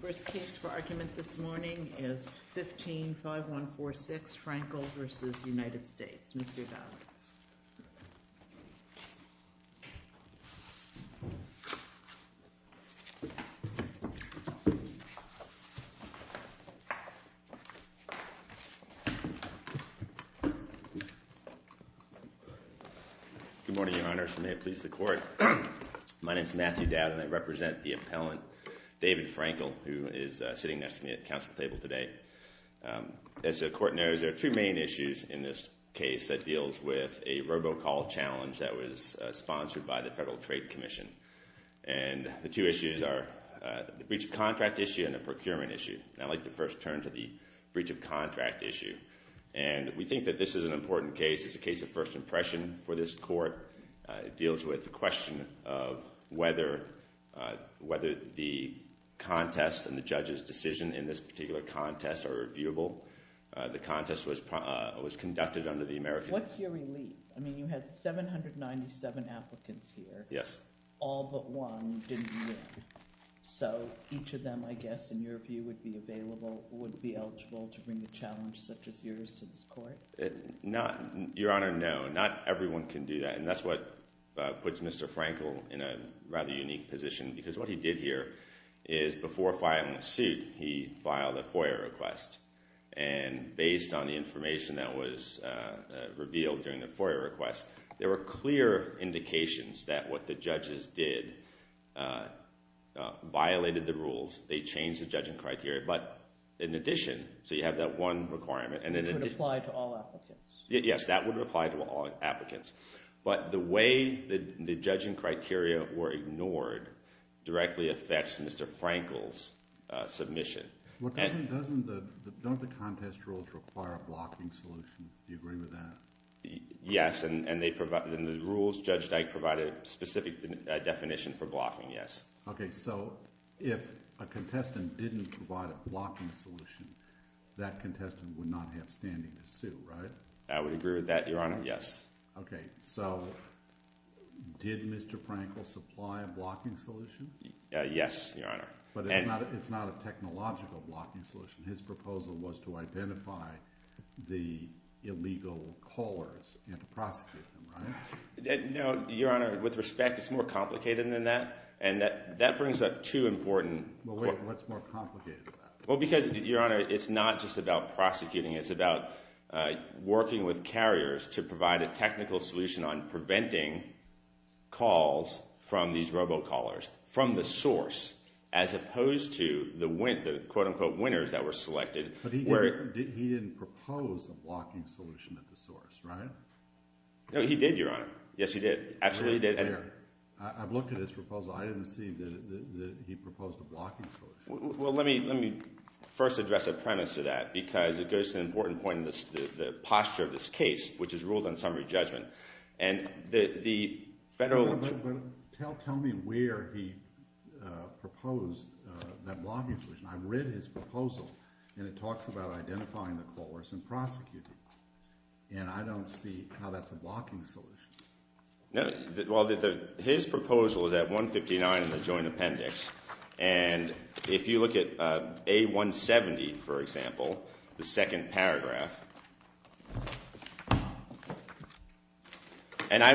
First case for argument this morning is 15-5146, Frankel v. United States. Mr. Valens. Good morning, Your Honor. May it please the Court. My name is Matthew Dowd and I represent the appellant, David Frankel, who is sitting next to me at the council table today. As the Court knows, there are two main issues in this case that deals with a robocall challenge that was sponsored by the Federal Trade Commission. And the two issues are the breach of contract issue and the procurement issue. And I'd like to first turn to the breach of contract issue. And we think that this is an important case. It's a case of first impression for this Court. It deals with the question of whether the contest and the judge's decision in this particular contest are reviewable. The contest was conducted under the American— What's your relief? I mean, you had 797 applicants here. Yes. All but one didn't win. So each of them, I guess, in your view, would be available, would be eligible to bring a challenge such as yours to this Court? Not—Your Honor, no. Not everyone can do that. And that's what puts Mr. Frankel in a rather unique position. Because what he did here is before filing the suit, he filed a FOIA request. And based on the information that was revealed during the FOIA request, there were clear indications that what the judges did violated the rules. They changed the judging criteria. But in addition, so you have that one requirement. And it would apply to all applicants. Yes, that would apply to all applicants. But the way the judging criteria were ignored directly affects Mr. Frankel's submission. Well, doesn't the—don't the contest rules require a blocking solution? Do you agree with that? Yes. And they provide—in the rules, Judge Dyke provided a specific definition for blocking, yes. Okay. So if a contestant didn't provide a blocking solution, that contestant would not have standing to sue, right? I would agree with that, Your Honor. Yes. Okay. So did Mr. Frankel supply a blocking solution? Yes, Your Honor. But it's not a technological blocking solution. His proposal was to identify the illegal callers and to prosecute them, right? No, Your Honor. With respect, it's more complicated than that. And that brings up two important— Well, what's more complicated about it? Well, because, Your Honor, it's not just about prosecuting. It's about working with carriers to provide a technical solution on preventing calls from these robocallers from the source, as opposed to the, quote-unquote, winners that were selected. But he didn't propose a blocking solution at the source, right? No, he did, Your Honor. Yes, he did. Absolutely. I've looked at his proposal. I didn't see that he proposed a blocking solution. Well, let me first address a premise to that, because it goes to an important point in the posture of this case, which is ruled on summary judgment. And the federal— But tell me where he proposed that blocking solution. I've read his proposal, and it No, well, his proposal is at 159 in the Joint Appendix. And if you look at A170, for example, the second paragraph—and I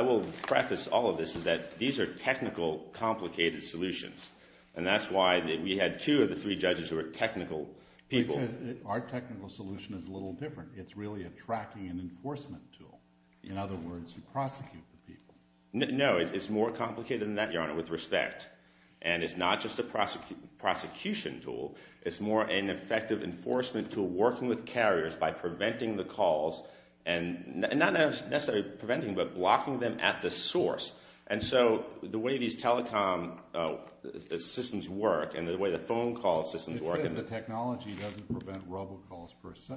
will preface all of this, is that these are technical, complicated solutions. And that's why we had two of the three judges who were technical people. Our technical solution is a little different. It's really a tracking and enforcement tool. In other words, you prosecute the people. No, it's more complicated than that, Your Honor, with respect. And it's not just a prosecution tool. It's more an effective enforcement tool, working with carriers by preventing the calls. And not necessarily preventing, but blocking them at the source. And so the way these telecom systems work, and the way the phone call systems work— You said the technology doesn't prevent robocalls, per se.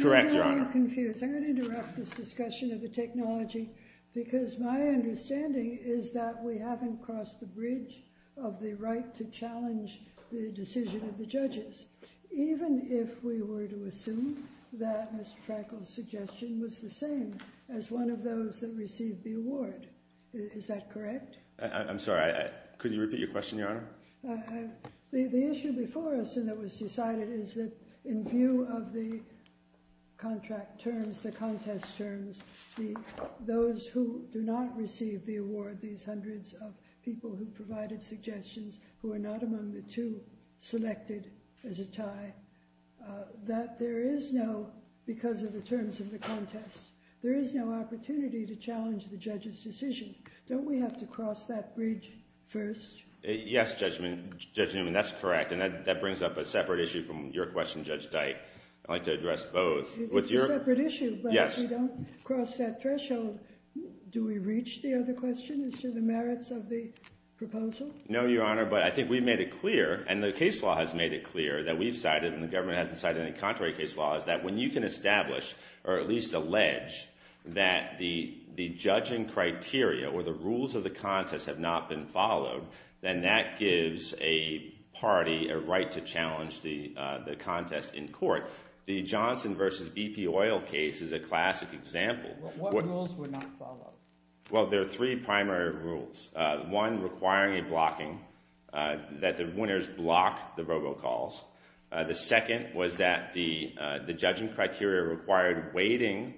Correct, Your Honor. I'm confused. I'm going to interrupt this discussion of the technology, because my understanding is that we haven't crossed the bridge of the right to challenge the decision of the judges, even if we were to assume that Mr. Frankel's suggestion was the same as one of those that received the award. Is that correct? I'm sorry, could you repeat your question, Your Honor? The issue before us that was decided is that in view of the contract terms, the contest terms, those who do not receive the award, these hundreds of people who provided suggestions who are not among the two selected as a tie, that there is no—because of the terms of the contest— there is no opportunity to challenge the judge's decision. Don't we have to cross that bridge first? Yes, Judge Newman, that's correct. And that brings up a separate issue from your question, Judge Dyke. I'd like to address both. It's a separate issue, but if we don't cross that threshold, do we reach the other question as to the merits of the proposal? No, Your Honor, but I think we've made it clear, and the case law has made it clear that we've decided, and the government hasn't decided any contrary case law, is that when you can establish, or at least allege, that the judging criteria or the rules of the contest have not been followed, then that gives a party a right to challenge the contest in court. The Johnson v. BP oil case is a classic example. What rules were not followed? Well, there are three primary rules. One requiring a blocking, that the winners block the robocalls. The second was that the judging criteria required weighting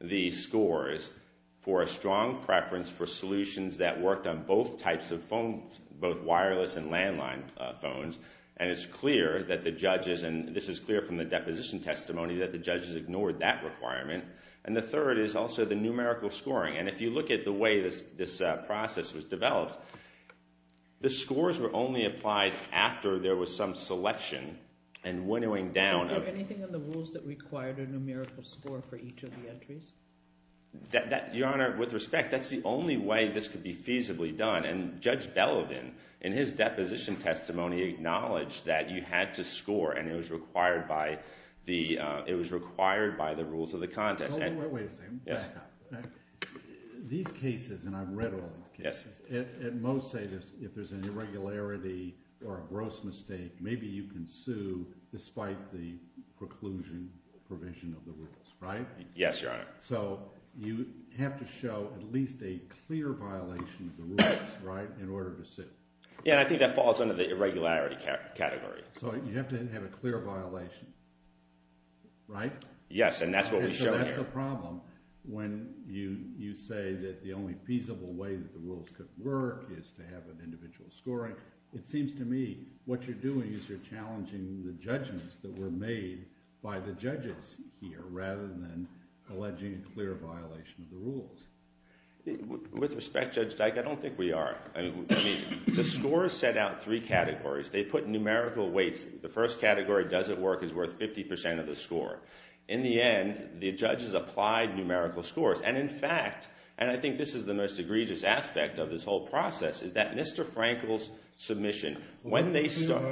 the scores for a strong preference for solutions that worked on both types of phones, both wireless and landline phones. And it's clear that the judges, and this is clear from the deposition testimony, that the judges ignored that requirement. And the third is also the numerical scoring. And if you look at the way this process was developed, the scores were only applied after there was some selection and winnowing down. Is there anything in the rules that required a numerical score for each of the entries? Your Honor, with respect, that's the only way this could be feasibly done. And Judge Bellowden, in his deposition testimony, acknowledged that you had to score and it was required by the rules of the contest. Wait a second. These cases, and I've read all these cases, most say that if there's an irregularity or a gross mistake, maybe you can sue despite the preclusion provision of the rules, right? Yes, Your Honor. So you have to show at least a clear violation of the rules, right, in order to sue. Yeah, and I think that falls under the irregularity category. So you have to have a clear violation, right? Yes, and that's what we show here. And so that's the problem when you say that the only feasible way that the rules could work is to have an individual scoring. It seems to me what you're doing is you're challenging the judgments that were made by the judges here rather than alleging a clear violation of the rules. With respect, Judge Dyke, I don't think we are. I mean, the scores set out three categories. They put numerical weights. The first category, does it work, is worth 50% of the score. In the end, the judges applied numerical scores. And in fact, and I think this is the most egregious aspect of this whole process, is that Mr. Frankel's submission, when they start—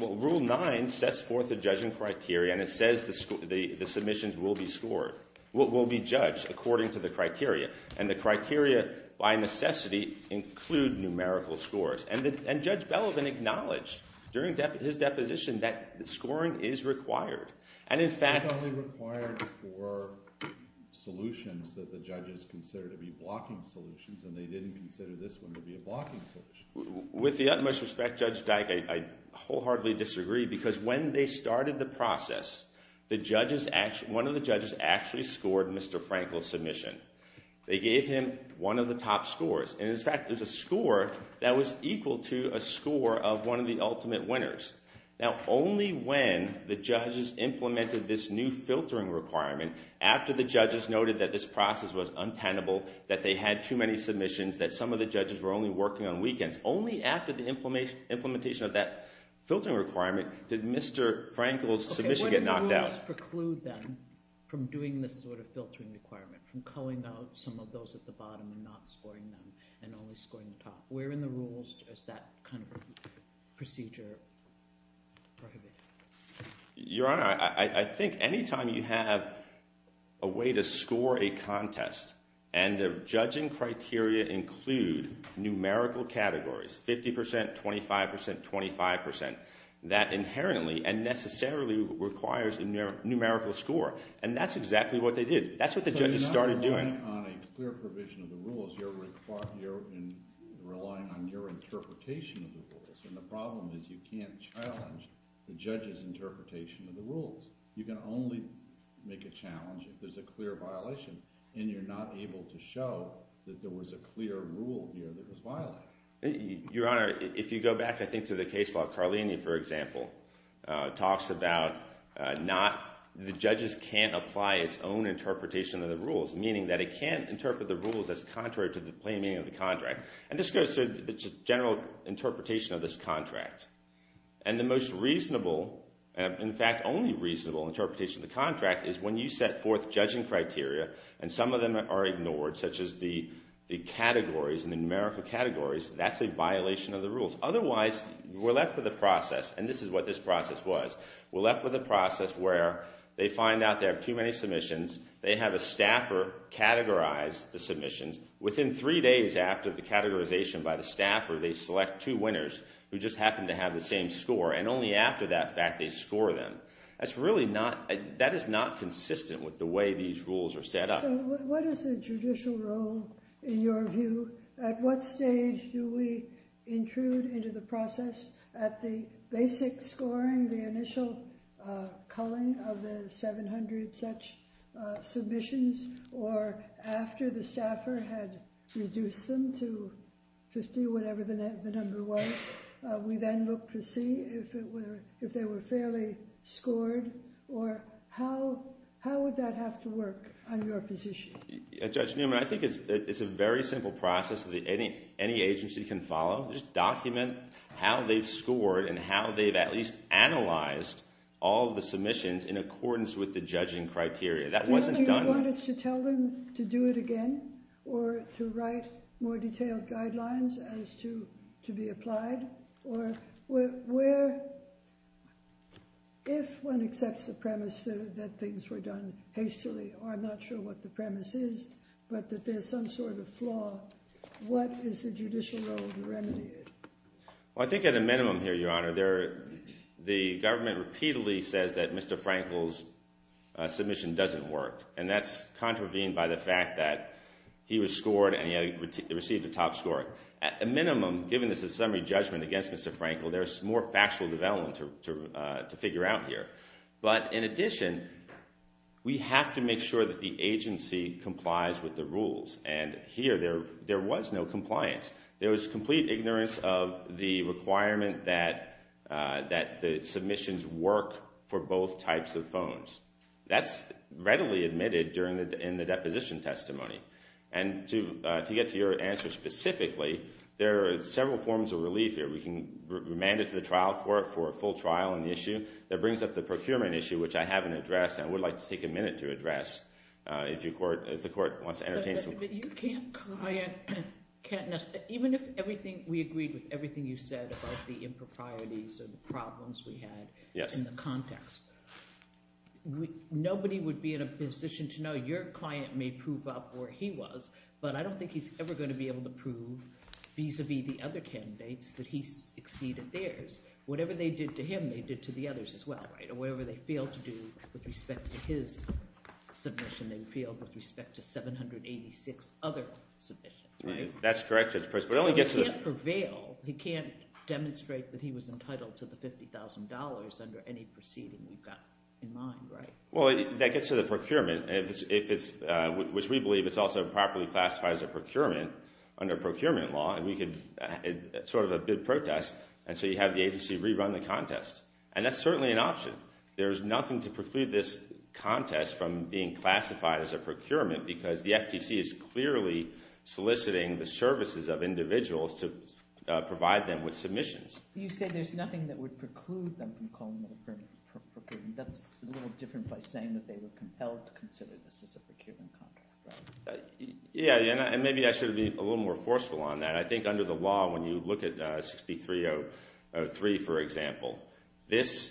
Well, Rule 9 sets forth a judging criteria, and it says the submissions will be scored, will be judged according to the criteria. And the criteria, by necessity, include numerical scores. And Judge Belovin acknowledged during his deposition that scoring is required. And in fact— It's only required for solutions that the judges consider to be blocking solutions, and they didn't consider this one to be a blocking solution. With the utmost respect, Judge Dyke, I wholeheartedly disagree, because when they started the process, one of the judges actually scored Mr. Frankel's submission. They gave him one of the top scores. And in fact, it was a score that was equal to a score of one of the ultimate winners. Now, only when the judges implemented this new filtering requirement, after the judges noted that this process was untenable, that they had too many submissions, that some of the judges were only working on weekends, only after the implementation of that filtering requirement did Mr. Frankel's submission get knocked out. What did the rules preclude then from doing this sort of filtering requirement, from culling out some of those at the bottom and not scoring them, and only scoring the top? Where in the rules does that kind of procedure prohibit? Your Honor, I think any time you have a way to score a contest, and the judging criteria include numerical categories, 50%, 25%, 25%, that inherently and necessarily requires a numerical score, and that's exactly what they did. That's what the judges started doing. But you're not relying on a clear provision of the rules. You're relying on your interpretation of the rules. And the problem is you can't challenge the judge's interpretation of the rules. You can only make a challenge if there's a clear violation, and you're not able to show that there was a clear rule here that was violated. Your Honor, if you go back, I think, to the case law of Carlini, for example, talks about the judges can't apply its own interpretation of the rules, meaning that it can't interpret the rules as contrary to the plain meaning of the contract. And this goes to the general interpretation of this contract. And the most reasonable, in fact, only reasonable interpretation of the contract is when you set forth judging criteria, and some of them are ignored, such as the categories and the numerical categories, that's a violation of the rules. Otherwise, we're left with a process, and this is what this process was. We're left with a process where they find out there are too many submissions. They have a staffer categorize the submissions. Within three days after the categorization by the staffer, they select two winners who just happen to have the same score, and only after that fact they score them. That is not consistent with the way these rules are set up. So what is the judicial role, in your view? At what stage do we intrude into the process at the basic scoring, the initial culling of the 700 such submissions, or after the staffer had reduced them to 50, whatever the number was, we then look to see if they were fairly scored, or how would that have to work on your position? Judge Newman, I think it's a very simple process that any agency can follow. Just document how they've scored, and how they've at least analyzed all the submissions in accordance with the judging criteria. That wasn't done. Do you want us to tell them to do it again, or to write more detailed guidelines as to be applied? Or if one accepts the premise that things were done hastily, or I'm not sure what the premise is, but that there's some sort of flaw, what is the judicial role to remedy it? Well, I think at a minimum here, Your Honor, the government repeatedly says that Mr. Frankel's submission doesn't work, and that's contravened by the fact that he was scored and he received a top score. At a minimum, given this is a summary judgment against Mr. Frankel, there's more factual development to figure out here. But in addition, we have to make sure that the agency complies with the rules. And here there was no compliance. There was complete ignorance of the requirement that the submissions work for both types of phones. That's readily admitted in the deposition testimony. And to get to your answer specifically, there are several forms of relief here. We can remand it to the trial court for a full trial on the issue. That brings up the procurement issue, which I haven't addressed and I would like to take a minute to address if the court wants to entertain some – But you can't – even if everything – we agreed with everything you said about the improprieties and the problems we had in the context, nobody would be in a position to know. Your client may prove up where he was, but I don't think he's ever going to be able to prove vis-à-vis the other candidates that he exceeded theirs. Whatever they did to him, they did to the others as well, right, and whatever they failed to do with respect to his submission, they failed with respect to 786 other submissions, right? That's correct. So he can't prevail. He can't demonstrate that he was entitled to the $50,000 under any proceeding we've got in mind, right? Well, that gets to the procurement, which we believe is also properly classified as a procurement under procurement law, and we can – it's sort of a bid protest, and so you have the agency rerun the contest. And that's certainly an option. There's nothing to preclude this contest from being classified as a procurement because the FTC is clearly soliciting the services of individuals to provide them with submissions. You say there's nothing that would preclude them from calling it a procurement. That's a little different by saying that they were compelled to consider this as a procurement contract, right? Yeah, and maybe I should be a little more forceful on that. I think under the law, when you look at 6303, for example, this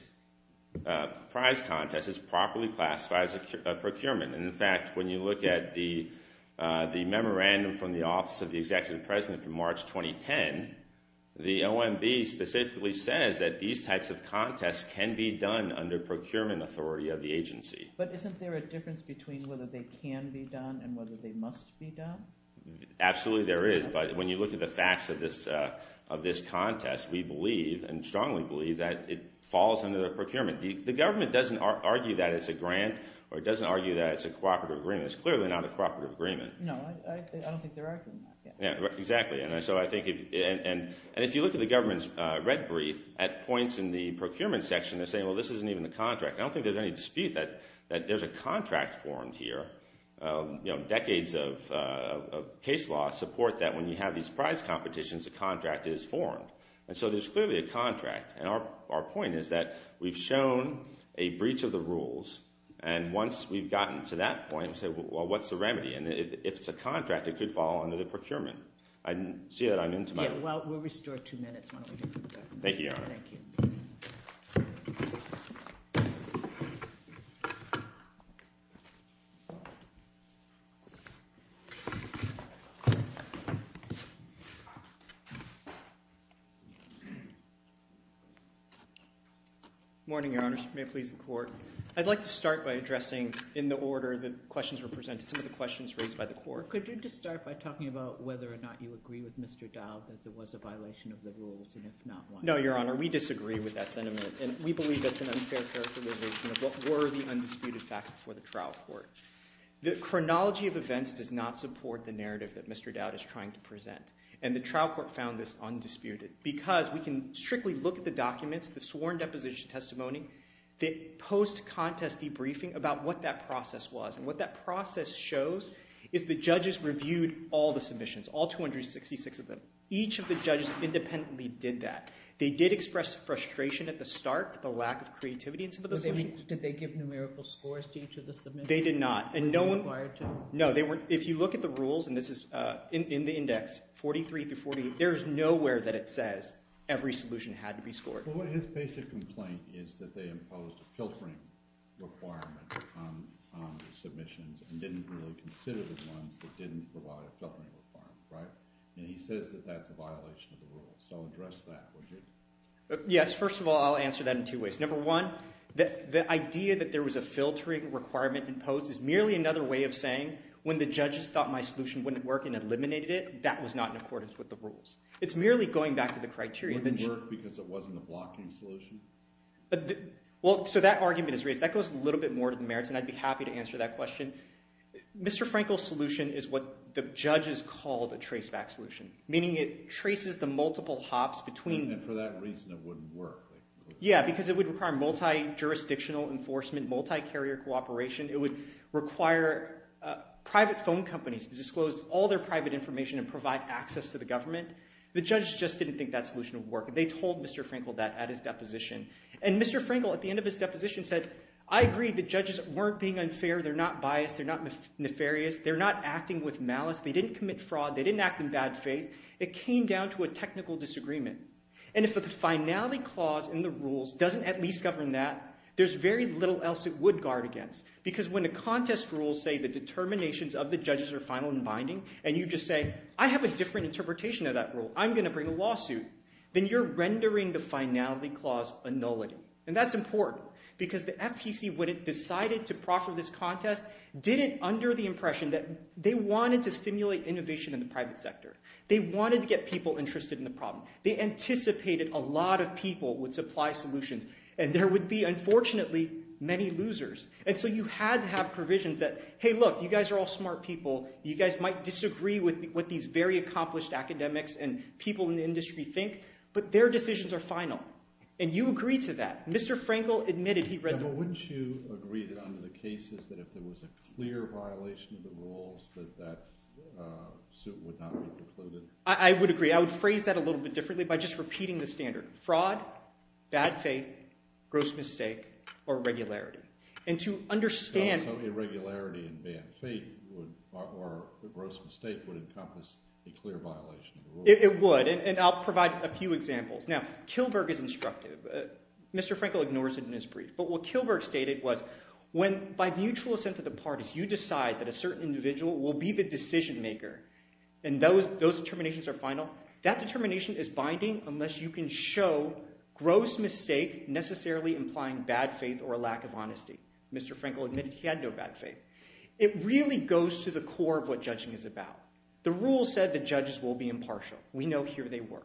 prize contest is properly classified as a procurement. In fact, when you look at the memorandum from the Office of the Executive President from March 2010, the OMB specifically says that these types of contests can be done under procurement authority of the agency. But isn't there a difference between whether they can be done and whether they must be done? Absolutely there is, but when you look at the facts of this contest, we believe and strongly believe that it falls under the procurement. The government doesn't argue that it's a grant or it doesn't argue that it's a cooperative agreement. It's clearly not a cooperative agreement. No, I don't think they're arguing that. Exactly, and so I think if you look at the government's red brief, at points in the procurement section they're saying, well, this isn't even the contract. I don't think there's any dispute that there's a contract formed here. Decades of case law support that when you have these prize competitions, a contract is formed. And so there's clearly a contract, and our point is that we've shown a breach of the rules, and once we've gotten to that point, we say, well, what's the remedy? And if it's a contract, it could fall under the procurement. I see that I'm into my— Yeah, well, we'll restore two minutes. Thank you, Your Honor. Thank you. Morning, Your Honor. May it please the Court. I'd like to start by addressing in the order the questions were presented, some of the questions raised by the Court. Could you just start by talking about whether or not you agree with Mr. Dowd that there was a violation of the rules, and if not, why? No, Your Honor, we disagree with that sentiment, and we believe that's an unfair characterization of what were the undisputed facts before the trial court. The chronology of events does not support the narrative that Mr. Dowd is trying to present, and the trial court found this undisputed because we can strictly look at the documents, the sworn deposition testimony, the post-contest debriefing about what that process was, and what that process shows is the judges reviewed all the submissions, all 266 of them. Each of the judges independently did that. They did express frustration at the start, the lack of creativity in some of the submissions. Did they give numerical scores to each of the submissions? They did not. Were they required to? No. If you look at the rules, and this is in the index, 43 through 48, there is nowhere that it says every solution had to be scored. But his basic complaint is that they imposed a filtering requirement on the submissions and didn't really consider the ones that didn't provide a filtering requirement, right? And he says that that's a violation of the rules, so address that, would you? Yes. First of all, I'll answer that in two ways. Number one, the idea that there was a filtering requirement imposed is merely another way of saying when the judges thought my solution wouldn't work and eliminated it, that was not in accordance with the rules. It's merely going back to the criteria. It wouldn't work because it wasn't a blocking solution? Well, so that argument is raised. That goes a little bit more to the merits, and I'd be happy to answer that question. Mr. Frankel's solution is what the judges called a traceback solution, meaning it traces the multiple hops between. And for that reason it wouldn't work. Yeah, because it would require multi-jurisdictional enforcement, multi-carrier cooperation. It would require private phone companies to disclose all their private information and provide access to the government. The judges just didn't think that solution would work. They told Mr. Frankel that at his deposition. And Mr. Frankel at the end of his deposition said, I agree the judges weren't being unfair. They're not biased. They're not nefarious. They're not acting with malice. They didn't commit fraud. They didn't act in bad faith. It came down to a technical disagreement. And if the finality clause in the rules doesn't at least govern that, there's very little else it would guard against. Because when the contest rules say the determinations of the judges are final and binding, and you just say, I have a different interpretation of that rule. I'm going to bring a lawsuit. Then you're rendering the finality clause a nullity. And that's important because the FTC, when it decided to proffer this contest, did it under the impression that they wanted to stimulate innovation in the private sector. They wanted to get people interested in the problem. They anticipated a lot of people would supply solutions. And there would be, unfortunately, many losers. And so you had to have provisions that, hey, look, you guys are all smart people. You guys might disagree with what these very accomplished academics and people in the industry think, but their decisions are final. And you agree to that. Mr. Frankel admitted he read the rules. But wouldn't you agree that under the cases that if there was a clear violation of the rules that that suit would not be precluded? I would agree. I would phrase that a little bit differently by just repeating the standard. Fraud, bad faith, gross mistake, or irregularity. And to understand— Irregularity and bad faith or gross mistake would encompass a clear violation of the rules. It would, and I'll provide a few examples. Now, Kilberg is instructive. Mr. Frankel ignores it in his brief. But what Kilberg stated was when by mutual assent of the parties you decide that a certain individual will be the decision maker and those determinations are final, that determination is binding unless you can show gross mistake necessarily implying bad faith or a lack of honesty. Mr. Frankel admitted he had no bad faith. It really goes to the core of what judging is about. The rules said the judges will be impartial. We know here they were.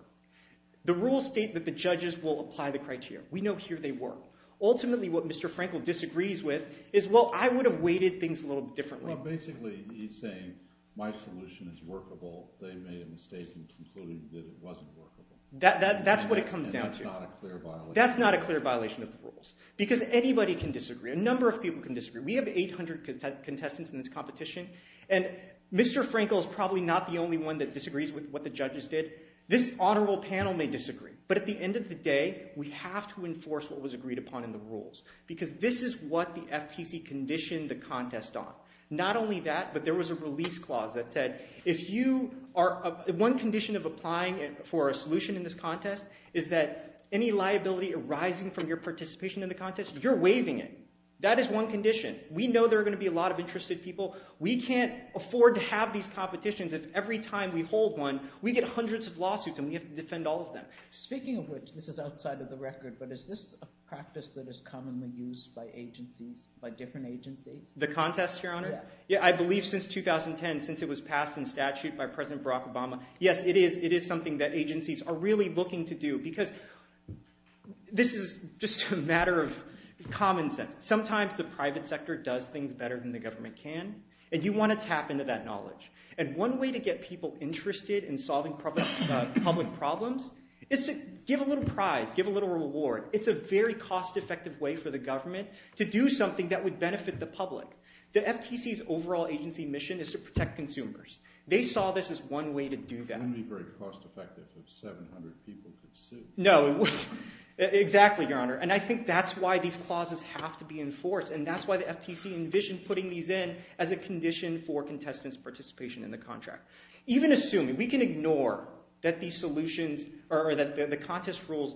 The rules state that the judges will apply the criteria. We know here they were. Ultimately, what Mr. Frankel disagrees with is, well, I would have weighted things a little differently. Well, basically he's saying my solution is workable. They made a mistake in concluding that it wasn't workable. That's what it comes down to. And that's not a clear violation. That's not a clear violation of the rules because anybody can disagree. A number of people can disagree. We have 800 contestants in this competition, and Mr. Frankel is probably not the only one that disagrees with what the judges did. This honorable panel may disagree, but at the end of the day, we have to enforce what was agreed upon in the rules because this is what the FTC conditioned the contest on, not only that, but there was a release clause that said if you are one condition of applying for a solution in this contest is that any liability arising from your participation in the contest, you're waiving it. That is one condition. We know there are going to be a lot of interested people. We can't afford to have these competitions if every time we hold one, we get hundreds of lawsuits and we have to defend all of them. Speaking of which, this is outside of the record, but is this a practice that is commonly used by agencies, by different agencies? The contest, Your Honor? Yeah. I believe since 2010, since it was passed in statute by President Barack Obama, yes, it is something that agencies are really looking to do because this is just a matter of common sense. Sometimes the private sector does things better than the government can, and you want to tap into that knowledge. One way to get people interested in solving public problems is to give a little prize, give a little reward. It's a very cost-effective way for the government to do something that would benefit the public. The FTC's overall agency mission is to protect consumers. They saw this as one way to do that. It wouldn't be very cost-effective if 700 people could sue. No, it wouldn't. Exactly, Your Honor. And I think that's why these clauses have to be enforced, and that's why the FTC envisioned putting these in as a condition for contestants' participation in the contract. Even assuming, we can ignore that the contest rules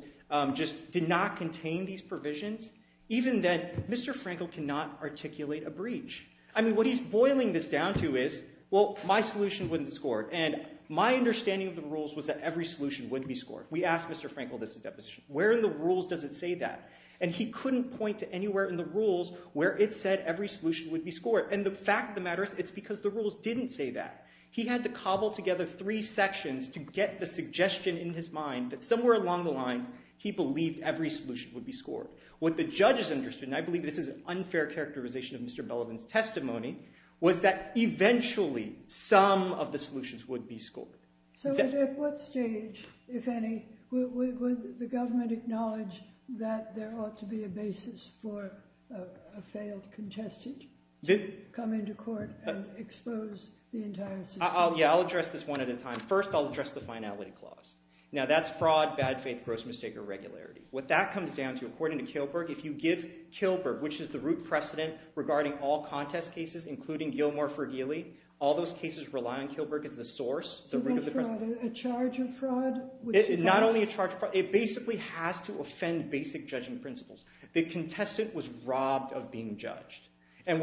just did not contain these provisions, even then, Mr. Frankel cannot articulate a breach. I mean, what he's boiling this down to is, well, my solution wouldn't be scored, and my understanding of the rules was that every solution would be scored. We asked Mr. Frankel this at deposition. Where in the rules does it say that? And he couldn't point to anywhere in the rules where it said every solution would be scored. And the fact of the matter is it's because the rules didn't say that. He had to cobble together three sections to get the suggestion in his mind that somewhere along the lines, he believed every solution would be scored. What the judges understood, and I believe this is an unfair characterization of Mr. Bellivan's testimony, was that eventually some of the solutions would be scored. So at what stage, if any, would the government acknowledge that there ought to be a basis for a failed contestant to come into court and expose the entire system? Yeah, I'll address this one at a time. First, I'll address the finality clause. Now, that's fraud, bad faith, gross mistake, or irregularity. What that comes down to, according to Kilberg, if you give Kilberg, which is the root precedent regarding all contest cases, including Gilmore-Fergile, all those cases rely on Kilberg as the source. Is that fraud? A charge of fraud? Not only a charge of fraud. It basically has to offend basic judging principles. The contestant was robbed of being judged. There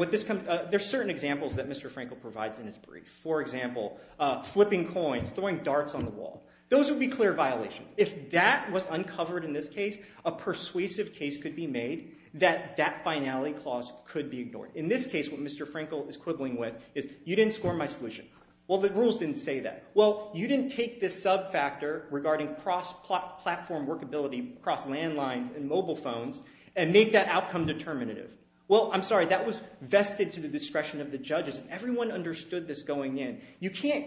are certain examples that Mr. Frankel provides in his brief. For example, flipping coins, throwing darts on the wall. Those would be clear violations. If that was uncovered in this case, a persuasive case could be made that that finality clause could be ignored. In this case, what Mr. Frankel is quibbling with is, you didn't score my solution. Well, the rules didn't say that. Well, you didn't take this sub-factor regarding cross-platform workability across landlines and mobile phones and make that outcome determinative. Well, I'm sorry, that was vested to the discretion of the judges. Everyone understood this going in. You can't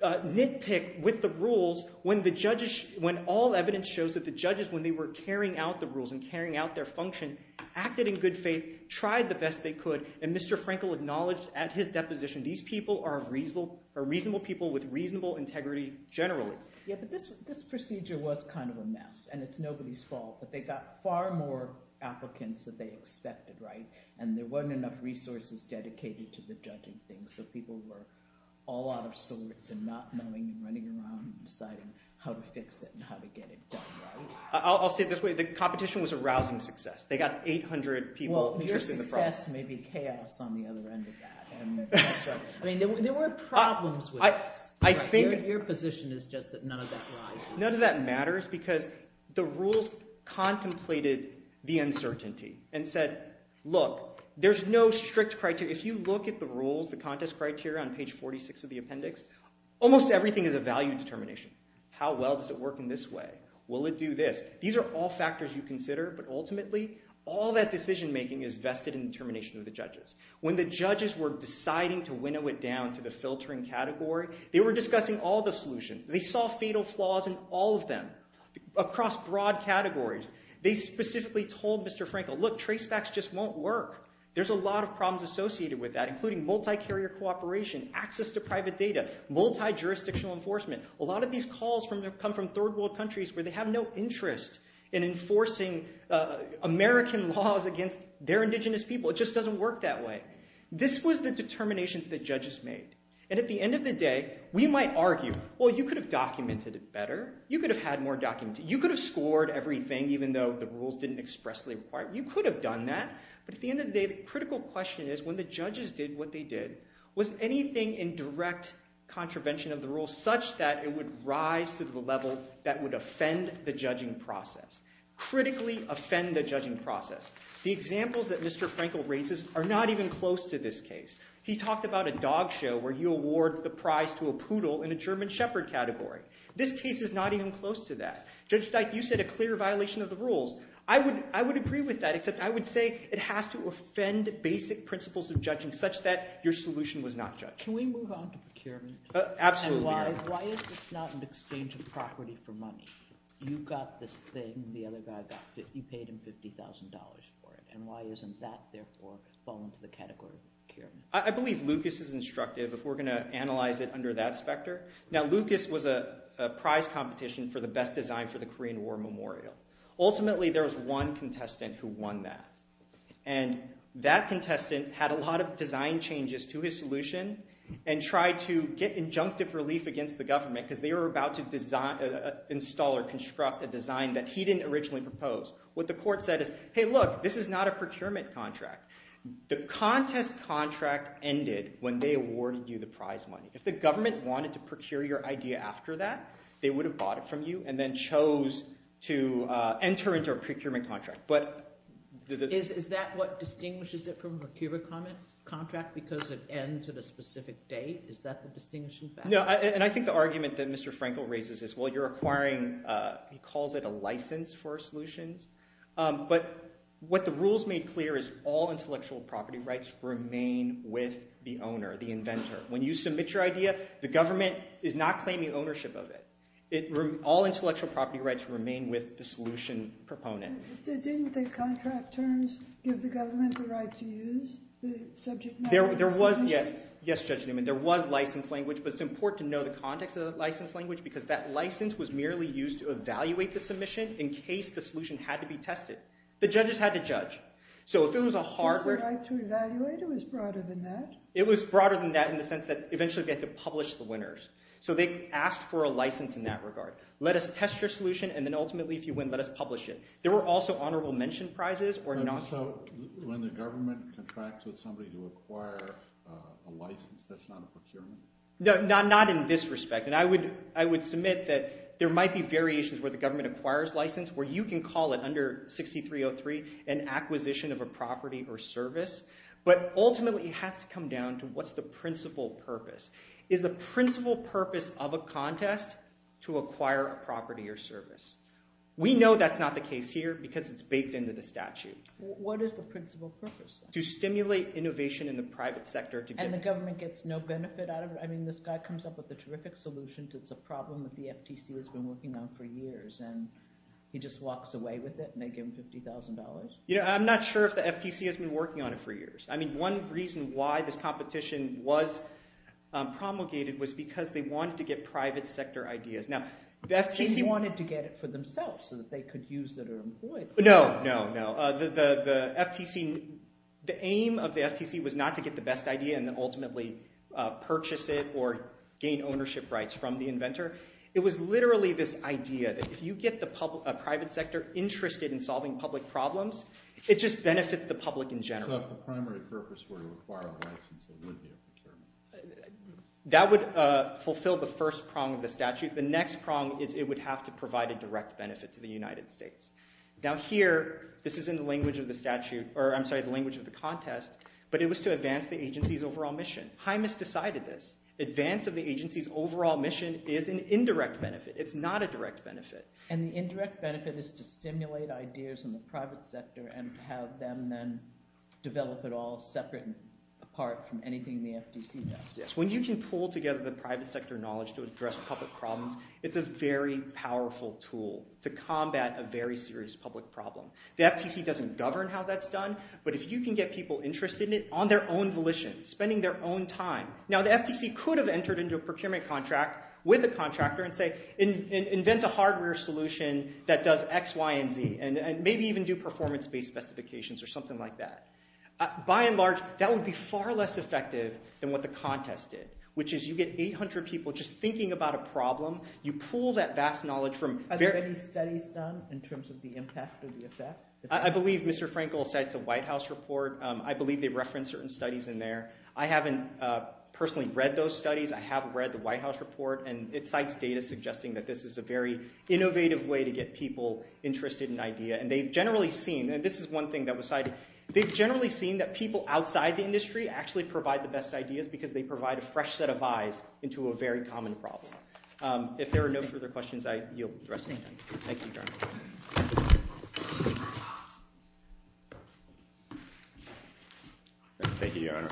nitpick with the rules when all evidence shows that the judges, when they were carrying out the rules and carrying out their function, acted in good faith, tried the best they could, and Mr. Frankel acknowledged at his deposition these people are reasonable people with reasonable integrity generally. Yeah, but this procedure was kind of a mess, and it's nobody's fault, but they got far more applicants than they expected, right? And there weren't enough resources dedicated to the judging thing, so people were all out of sorts and not knowing and running around and deciding how to fix it and how to get it done, right? I'll say it this way. The competition was a rousing success. They got 800 people interested in the problem. Well, your success may be chaos on the other end of that. I mean, there were problems with this. Your position is just that none of that rises. None of that matters, because the rules contemplated the uncertainty and said, look, there's no strict criteria. If you look at the rules, the contest criteria on page 46 of the appendix, almost everything is a value determination. How well does it work in this way? Will it do this? These are all factors you consider, but ultimately all that decision-making is vested in the determination of the judges. When the judges were deciding to winnow it down to the filtering category, they were discussing all the solutions. They saw fatal flaws in all of them across broad categories. They specifically told Mr. Frankel, look, tracebacks just won't work. There's a lot of problems associated with that, including multi-carrier cooperation, access to private data, multi-jurisdictional enforcement. A lot of these calls come from third-world countries where they have no interest in enforcing American laws against their indigenous people. It just doesn't work that way. This was the determination that judges made. And at the end of the day, we might argue, well, you could have documented it better. You could have had more documentation. You could have scored everything, even though the rules didn't expressly require it. You could have done that. But at the end of the day, the critical question is, when the judges did what they did, was anything in direct contravention of the rules such that it would rise to the level that would offend the judging process, critically offend the judging process? The examples that Mr. Frankel raises are not even close to this case. He talked about a dog show where you award the prize to a poodle in a German shepherd category. This case is not even close to that. Judge Dyke, you said a clear violation of the rules. I would agree with that, except I would say it has to offend basic principles of judging such that your solution was not judged. Can we move on to procurement? Absolutely. Why is this not an exchange of property for money? You got this thing, the other guy got 50, he paid him $50,000 for it. And why doesn't that, therefore, fall into the category of procurement? I believe Lucas is instructive if we're going to analyze it under that specter. Now, Lucas was a prize competition for the best design for the Korean War memorial. Ultimately, there was one contestant who won that. And that contestant had a lot of design changes to his solution and tried to get injunctive relief against the government because they were about to install or construct a design that he didn't originally propose. What the court said is, hey, look, this is not a procurement contract. The contest contract ended when they awarded you the prize money. If the government wanted to procure your idea after that, they would have bought it from you and then chose to enter into a procurement contract. But... Is that what distinguishes it from a procurement contract because it ends at a specific date? Is that the distinguishing factor? No, and I think the argument that Mr. Frankel raises is, well, you're acquiring, he calls it a license for solutions. But what the rules made clear is all intellectual property rights remain with the owner, the inventor. When you submit your idea, the government is not claiming ownership of it. All intellectual property rights remain with the solution proponent. Didn't the contract terms give the government the right to use the subject matter of the solutions? Yes, Judge Newman. There was license language, but it's important to know the context of the license language because that license was merely used to evaluate the submission in case the solution had to be tested. The judges had to judge. So if it was a hardware... Just the right to evaluate? It was broader than that? It was broader than that in the sense that eventually they had to publish the winners. So they asked for a license in that regard. Let us test your solution, and then ultimately if you win, let us publish it. There were also honorable mention prizes. So when the government contracts with somebody to acquire a license, that's not a procurement? Not in this respect. And I would submit that there might be variations where the government acquires license where you can call it under 6303 an acquisition of a property or service, but ultimately it has to come down to what's the principal purpose. Is the principal purpose of a contest to acquire a property or service? We know that's not the case here because it's baked into the statute. What is the principal purpose? To stimulate innovation in the private sector. And the government gets no benefit out of it? I mean, this guy comes up with a terrific solution. It's a problem that the FTC has been working on for years, and he just walks away with it and they give him $50,000? I'm not sure if the FTC has been working on it for years. I mean, one reason why this competition was promulgated was because they wanted to get private sector ideas. They wanted to get it for themselves so that they could use it or employ it. No, no, no. The aim of the FTC was not to get the best idea and then ultimately purchase it or gain ownership rights from the inventor. It was literally this idea that if you get a private sector interested in solving public problems, it just benefits the public in general. So if the primary purpose were to acquire a license, it would be a concern. That would fulfill the first prong of the statute. The next prong is it would have to provide a direct benefit to the United States. Now here, this is in the language of the statute, or I'm sorry, the language of the contest, but it was to advance the agency's overall mission. Hymas decided this. Advance of the agency's overall mission is an indirect benefit. It's not a direct benefit. And the indirect benefit is to stimulate ideas in the private sector and have them then develop it all separate and apart from anything the FTC does. Yes, when you can pull together the private sector knowledge to address public problems, it's a very powerful tool to combat a very serious public problem. The FTC doesn't govern how that's done, but if you can get people interested in it on their own volition, spending their own time. Now the FTC could have entered into a procurement contract with a contractor and say, invent a hardware solution that does X, Y, and Z, and maybe even do performance-based specifications or something like that. By and large, that would be far less effective than what the contest did, which is you get 800 people just thinking about a problem. You pull that vast knowledge from... Are there any studies done in terms of the impact or the effect? I believe Mr. Frankel cites a White House report. I believe they reference certain studies in there. I haven't personally read those studies. I have read the White House report, and it cites data suggesting that this is a very innovative way to get people interested in an idea. And they've generally seen, and this is one thing that was cited, they've generally seen that people outside the industry actually provide the best ideas because they provide a fresh set of eyes into a very common problem. If there are no further questions, I yield the rest of my time. Thank you, Your Honor. Thank you, Your Honor.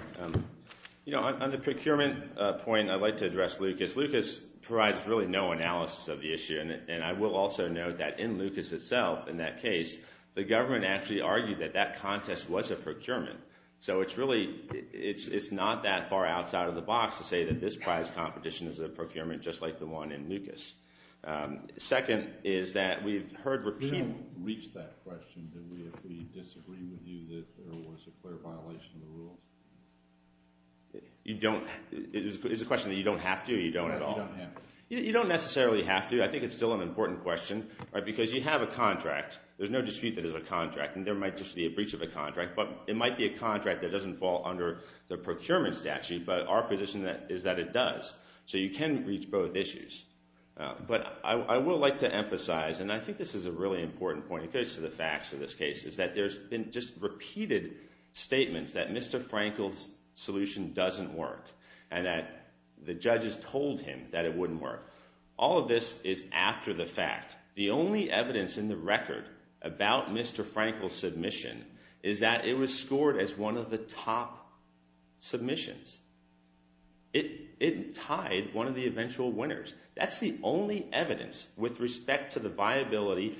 You know, on the procurement point, I'd like to address Lucas. Lucas provides really no analysis of the issue, and I will also note that in Lucas itself, in that case, the government actually argued that that contest was a procurement. So it's really, it's not that far outside of the box to say that this prize competition is a procurement just like the one in Lucas. Second is that we've heard repeatedly... We didn't reach that question, did we, if we disagree with you that there was a clear violation of the rules? You don't... It's a question that you don't have to, you don't at all. You don't necessarily have to. I think it's still an important question, because you have a contract. There's no dispute that it's a contract, and there might just be a breach of a contract, but it might be a contract that doesn't fall under the procurement statute, but our position is that it does. So you can reach both issues. But I will like to emphasize, and I think this is a really important point, it goes to the facts of this case, is that there's been just repeated statements that Mr. Frankel's solution doesn't work, and that the judges told him that it wouldn't work. All of this is after the fact. The only evidence in the record about Mr. Frankel's submission is that it was scored as one of the top submissions. It tied one of the eventual winners. That's the only evidence with respect to the viability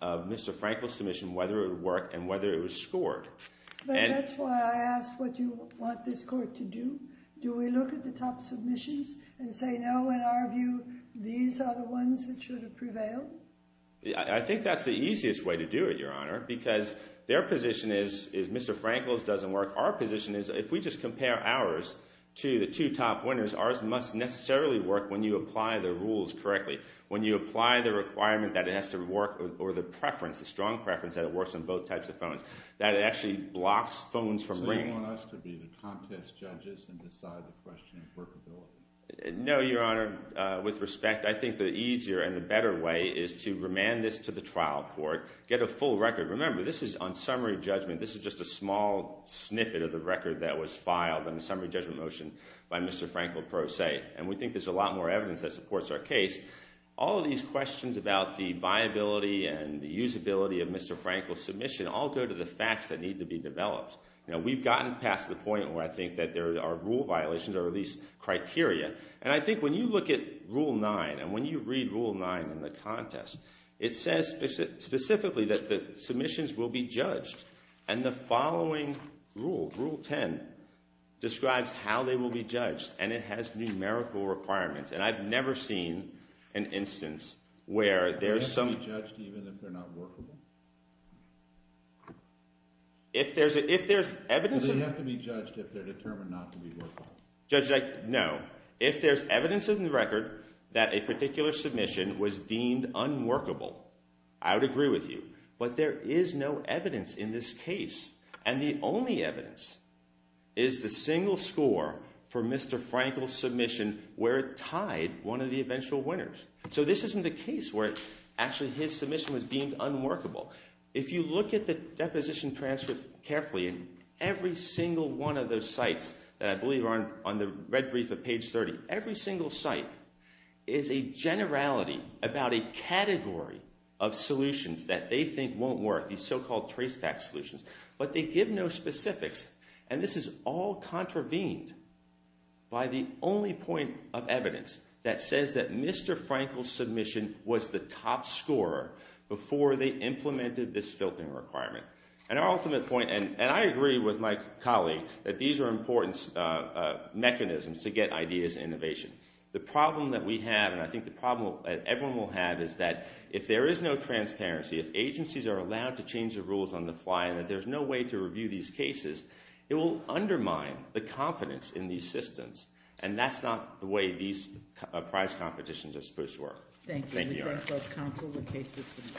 of Mr. Frankel's submission, whether it worked and whether it was scored. But that's why I ask what you want this court to do. Do we look at the top submissions and say, no, in our view, these are the ones that should have prevailed? I think that's the easiest way to do it, Your Honor, because their position is Mr. Frankel's doesn't work. Our position is if we just compare ours to the two top winners, ours must necessarily work when you apply the rules correctly, when you apply the requirement that it has to work or the preference, the strong preference, that it works on both types of phones, that it actually blocks phones from ringing. So you want us to be the contest judges and decide the question of workability? No, Your Honor. With respect, I think the easier and the better way is to remand this to the trial court, get a full record. Remember, this is on summary judgment. This is just a small snippet of the record that was filed in the summary judgment motion by Mr. Frankel pro se. And we think there's a lot more evidence that supports our case. All of these questions about the viability and the usability of Mr. Frankel's submission all go to the facts that need to be developed. You know, we've gotten past the point where I think that there are rule violations or at least criteria. And I think when you look at Rule 9 and when you read Rule 9 in the contest, it says specifically that the submissions will be judged. And the following rule, Rule 10, describes how they will be judged. And it has numerical requirements. And I've never seen an instance where there's some... Do they have to be judged even if they're not workable? If there's evidence... Do they have to be judged if they're determined not to be workable? Judge, no. If there's evidence in the record that a particular submission was deemed unworkable, I would agree with you. But there is no evidence in this case. And the only evidence is the single score for Mr. Frankel's submission where it tied one of the eventual winners. So this isn't the case where actually his submission was deemed unworkable. If you look at the deposition transcript carefully, every single one of those sites that I believe are on the red brief of page 30, every single site is a generality about a category of solutions that they think won't work, these so-called traceback solutions. But they give no specifics. And this is all contravened by the only point of evidence that says that Mr. Frankel's submission was the top scorer before they implemented this filtering requirement. And our ultimate point... And I agree with my colleague that these are important mechanisms to get ideas and innovation. The problem that we have, and I think the problem that everyone will have, is that if there is no transparency, if agencies are allowed to change the rules on the fly and that there's no way to review these cases, it will undermine the confidence in these systems. And that's not the way these prize competitions are supposed to work. Thank you. Thank you, Your Honor. We thank both counsel and cases.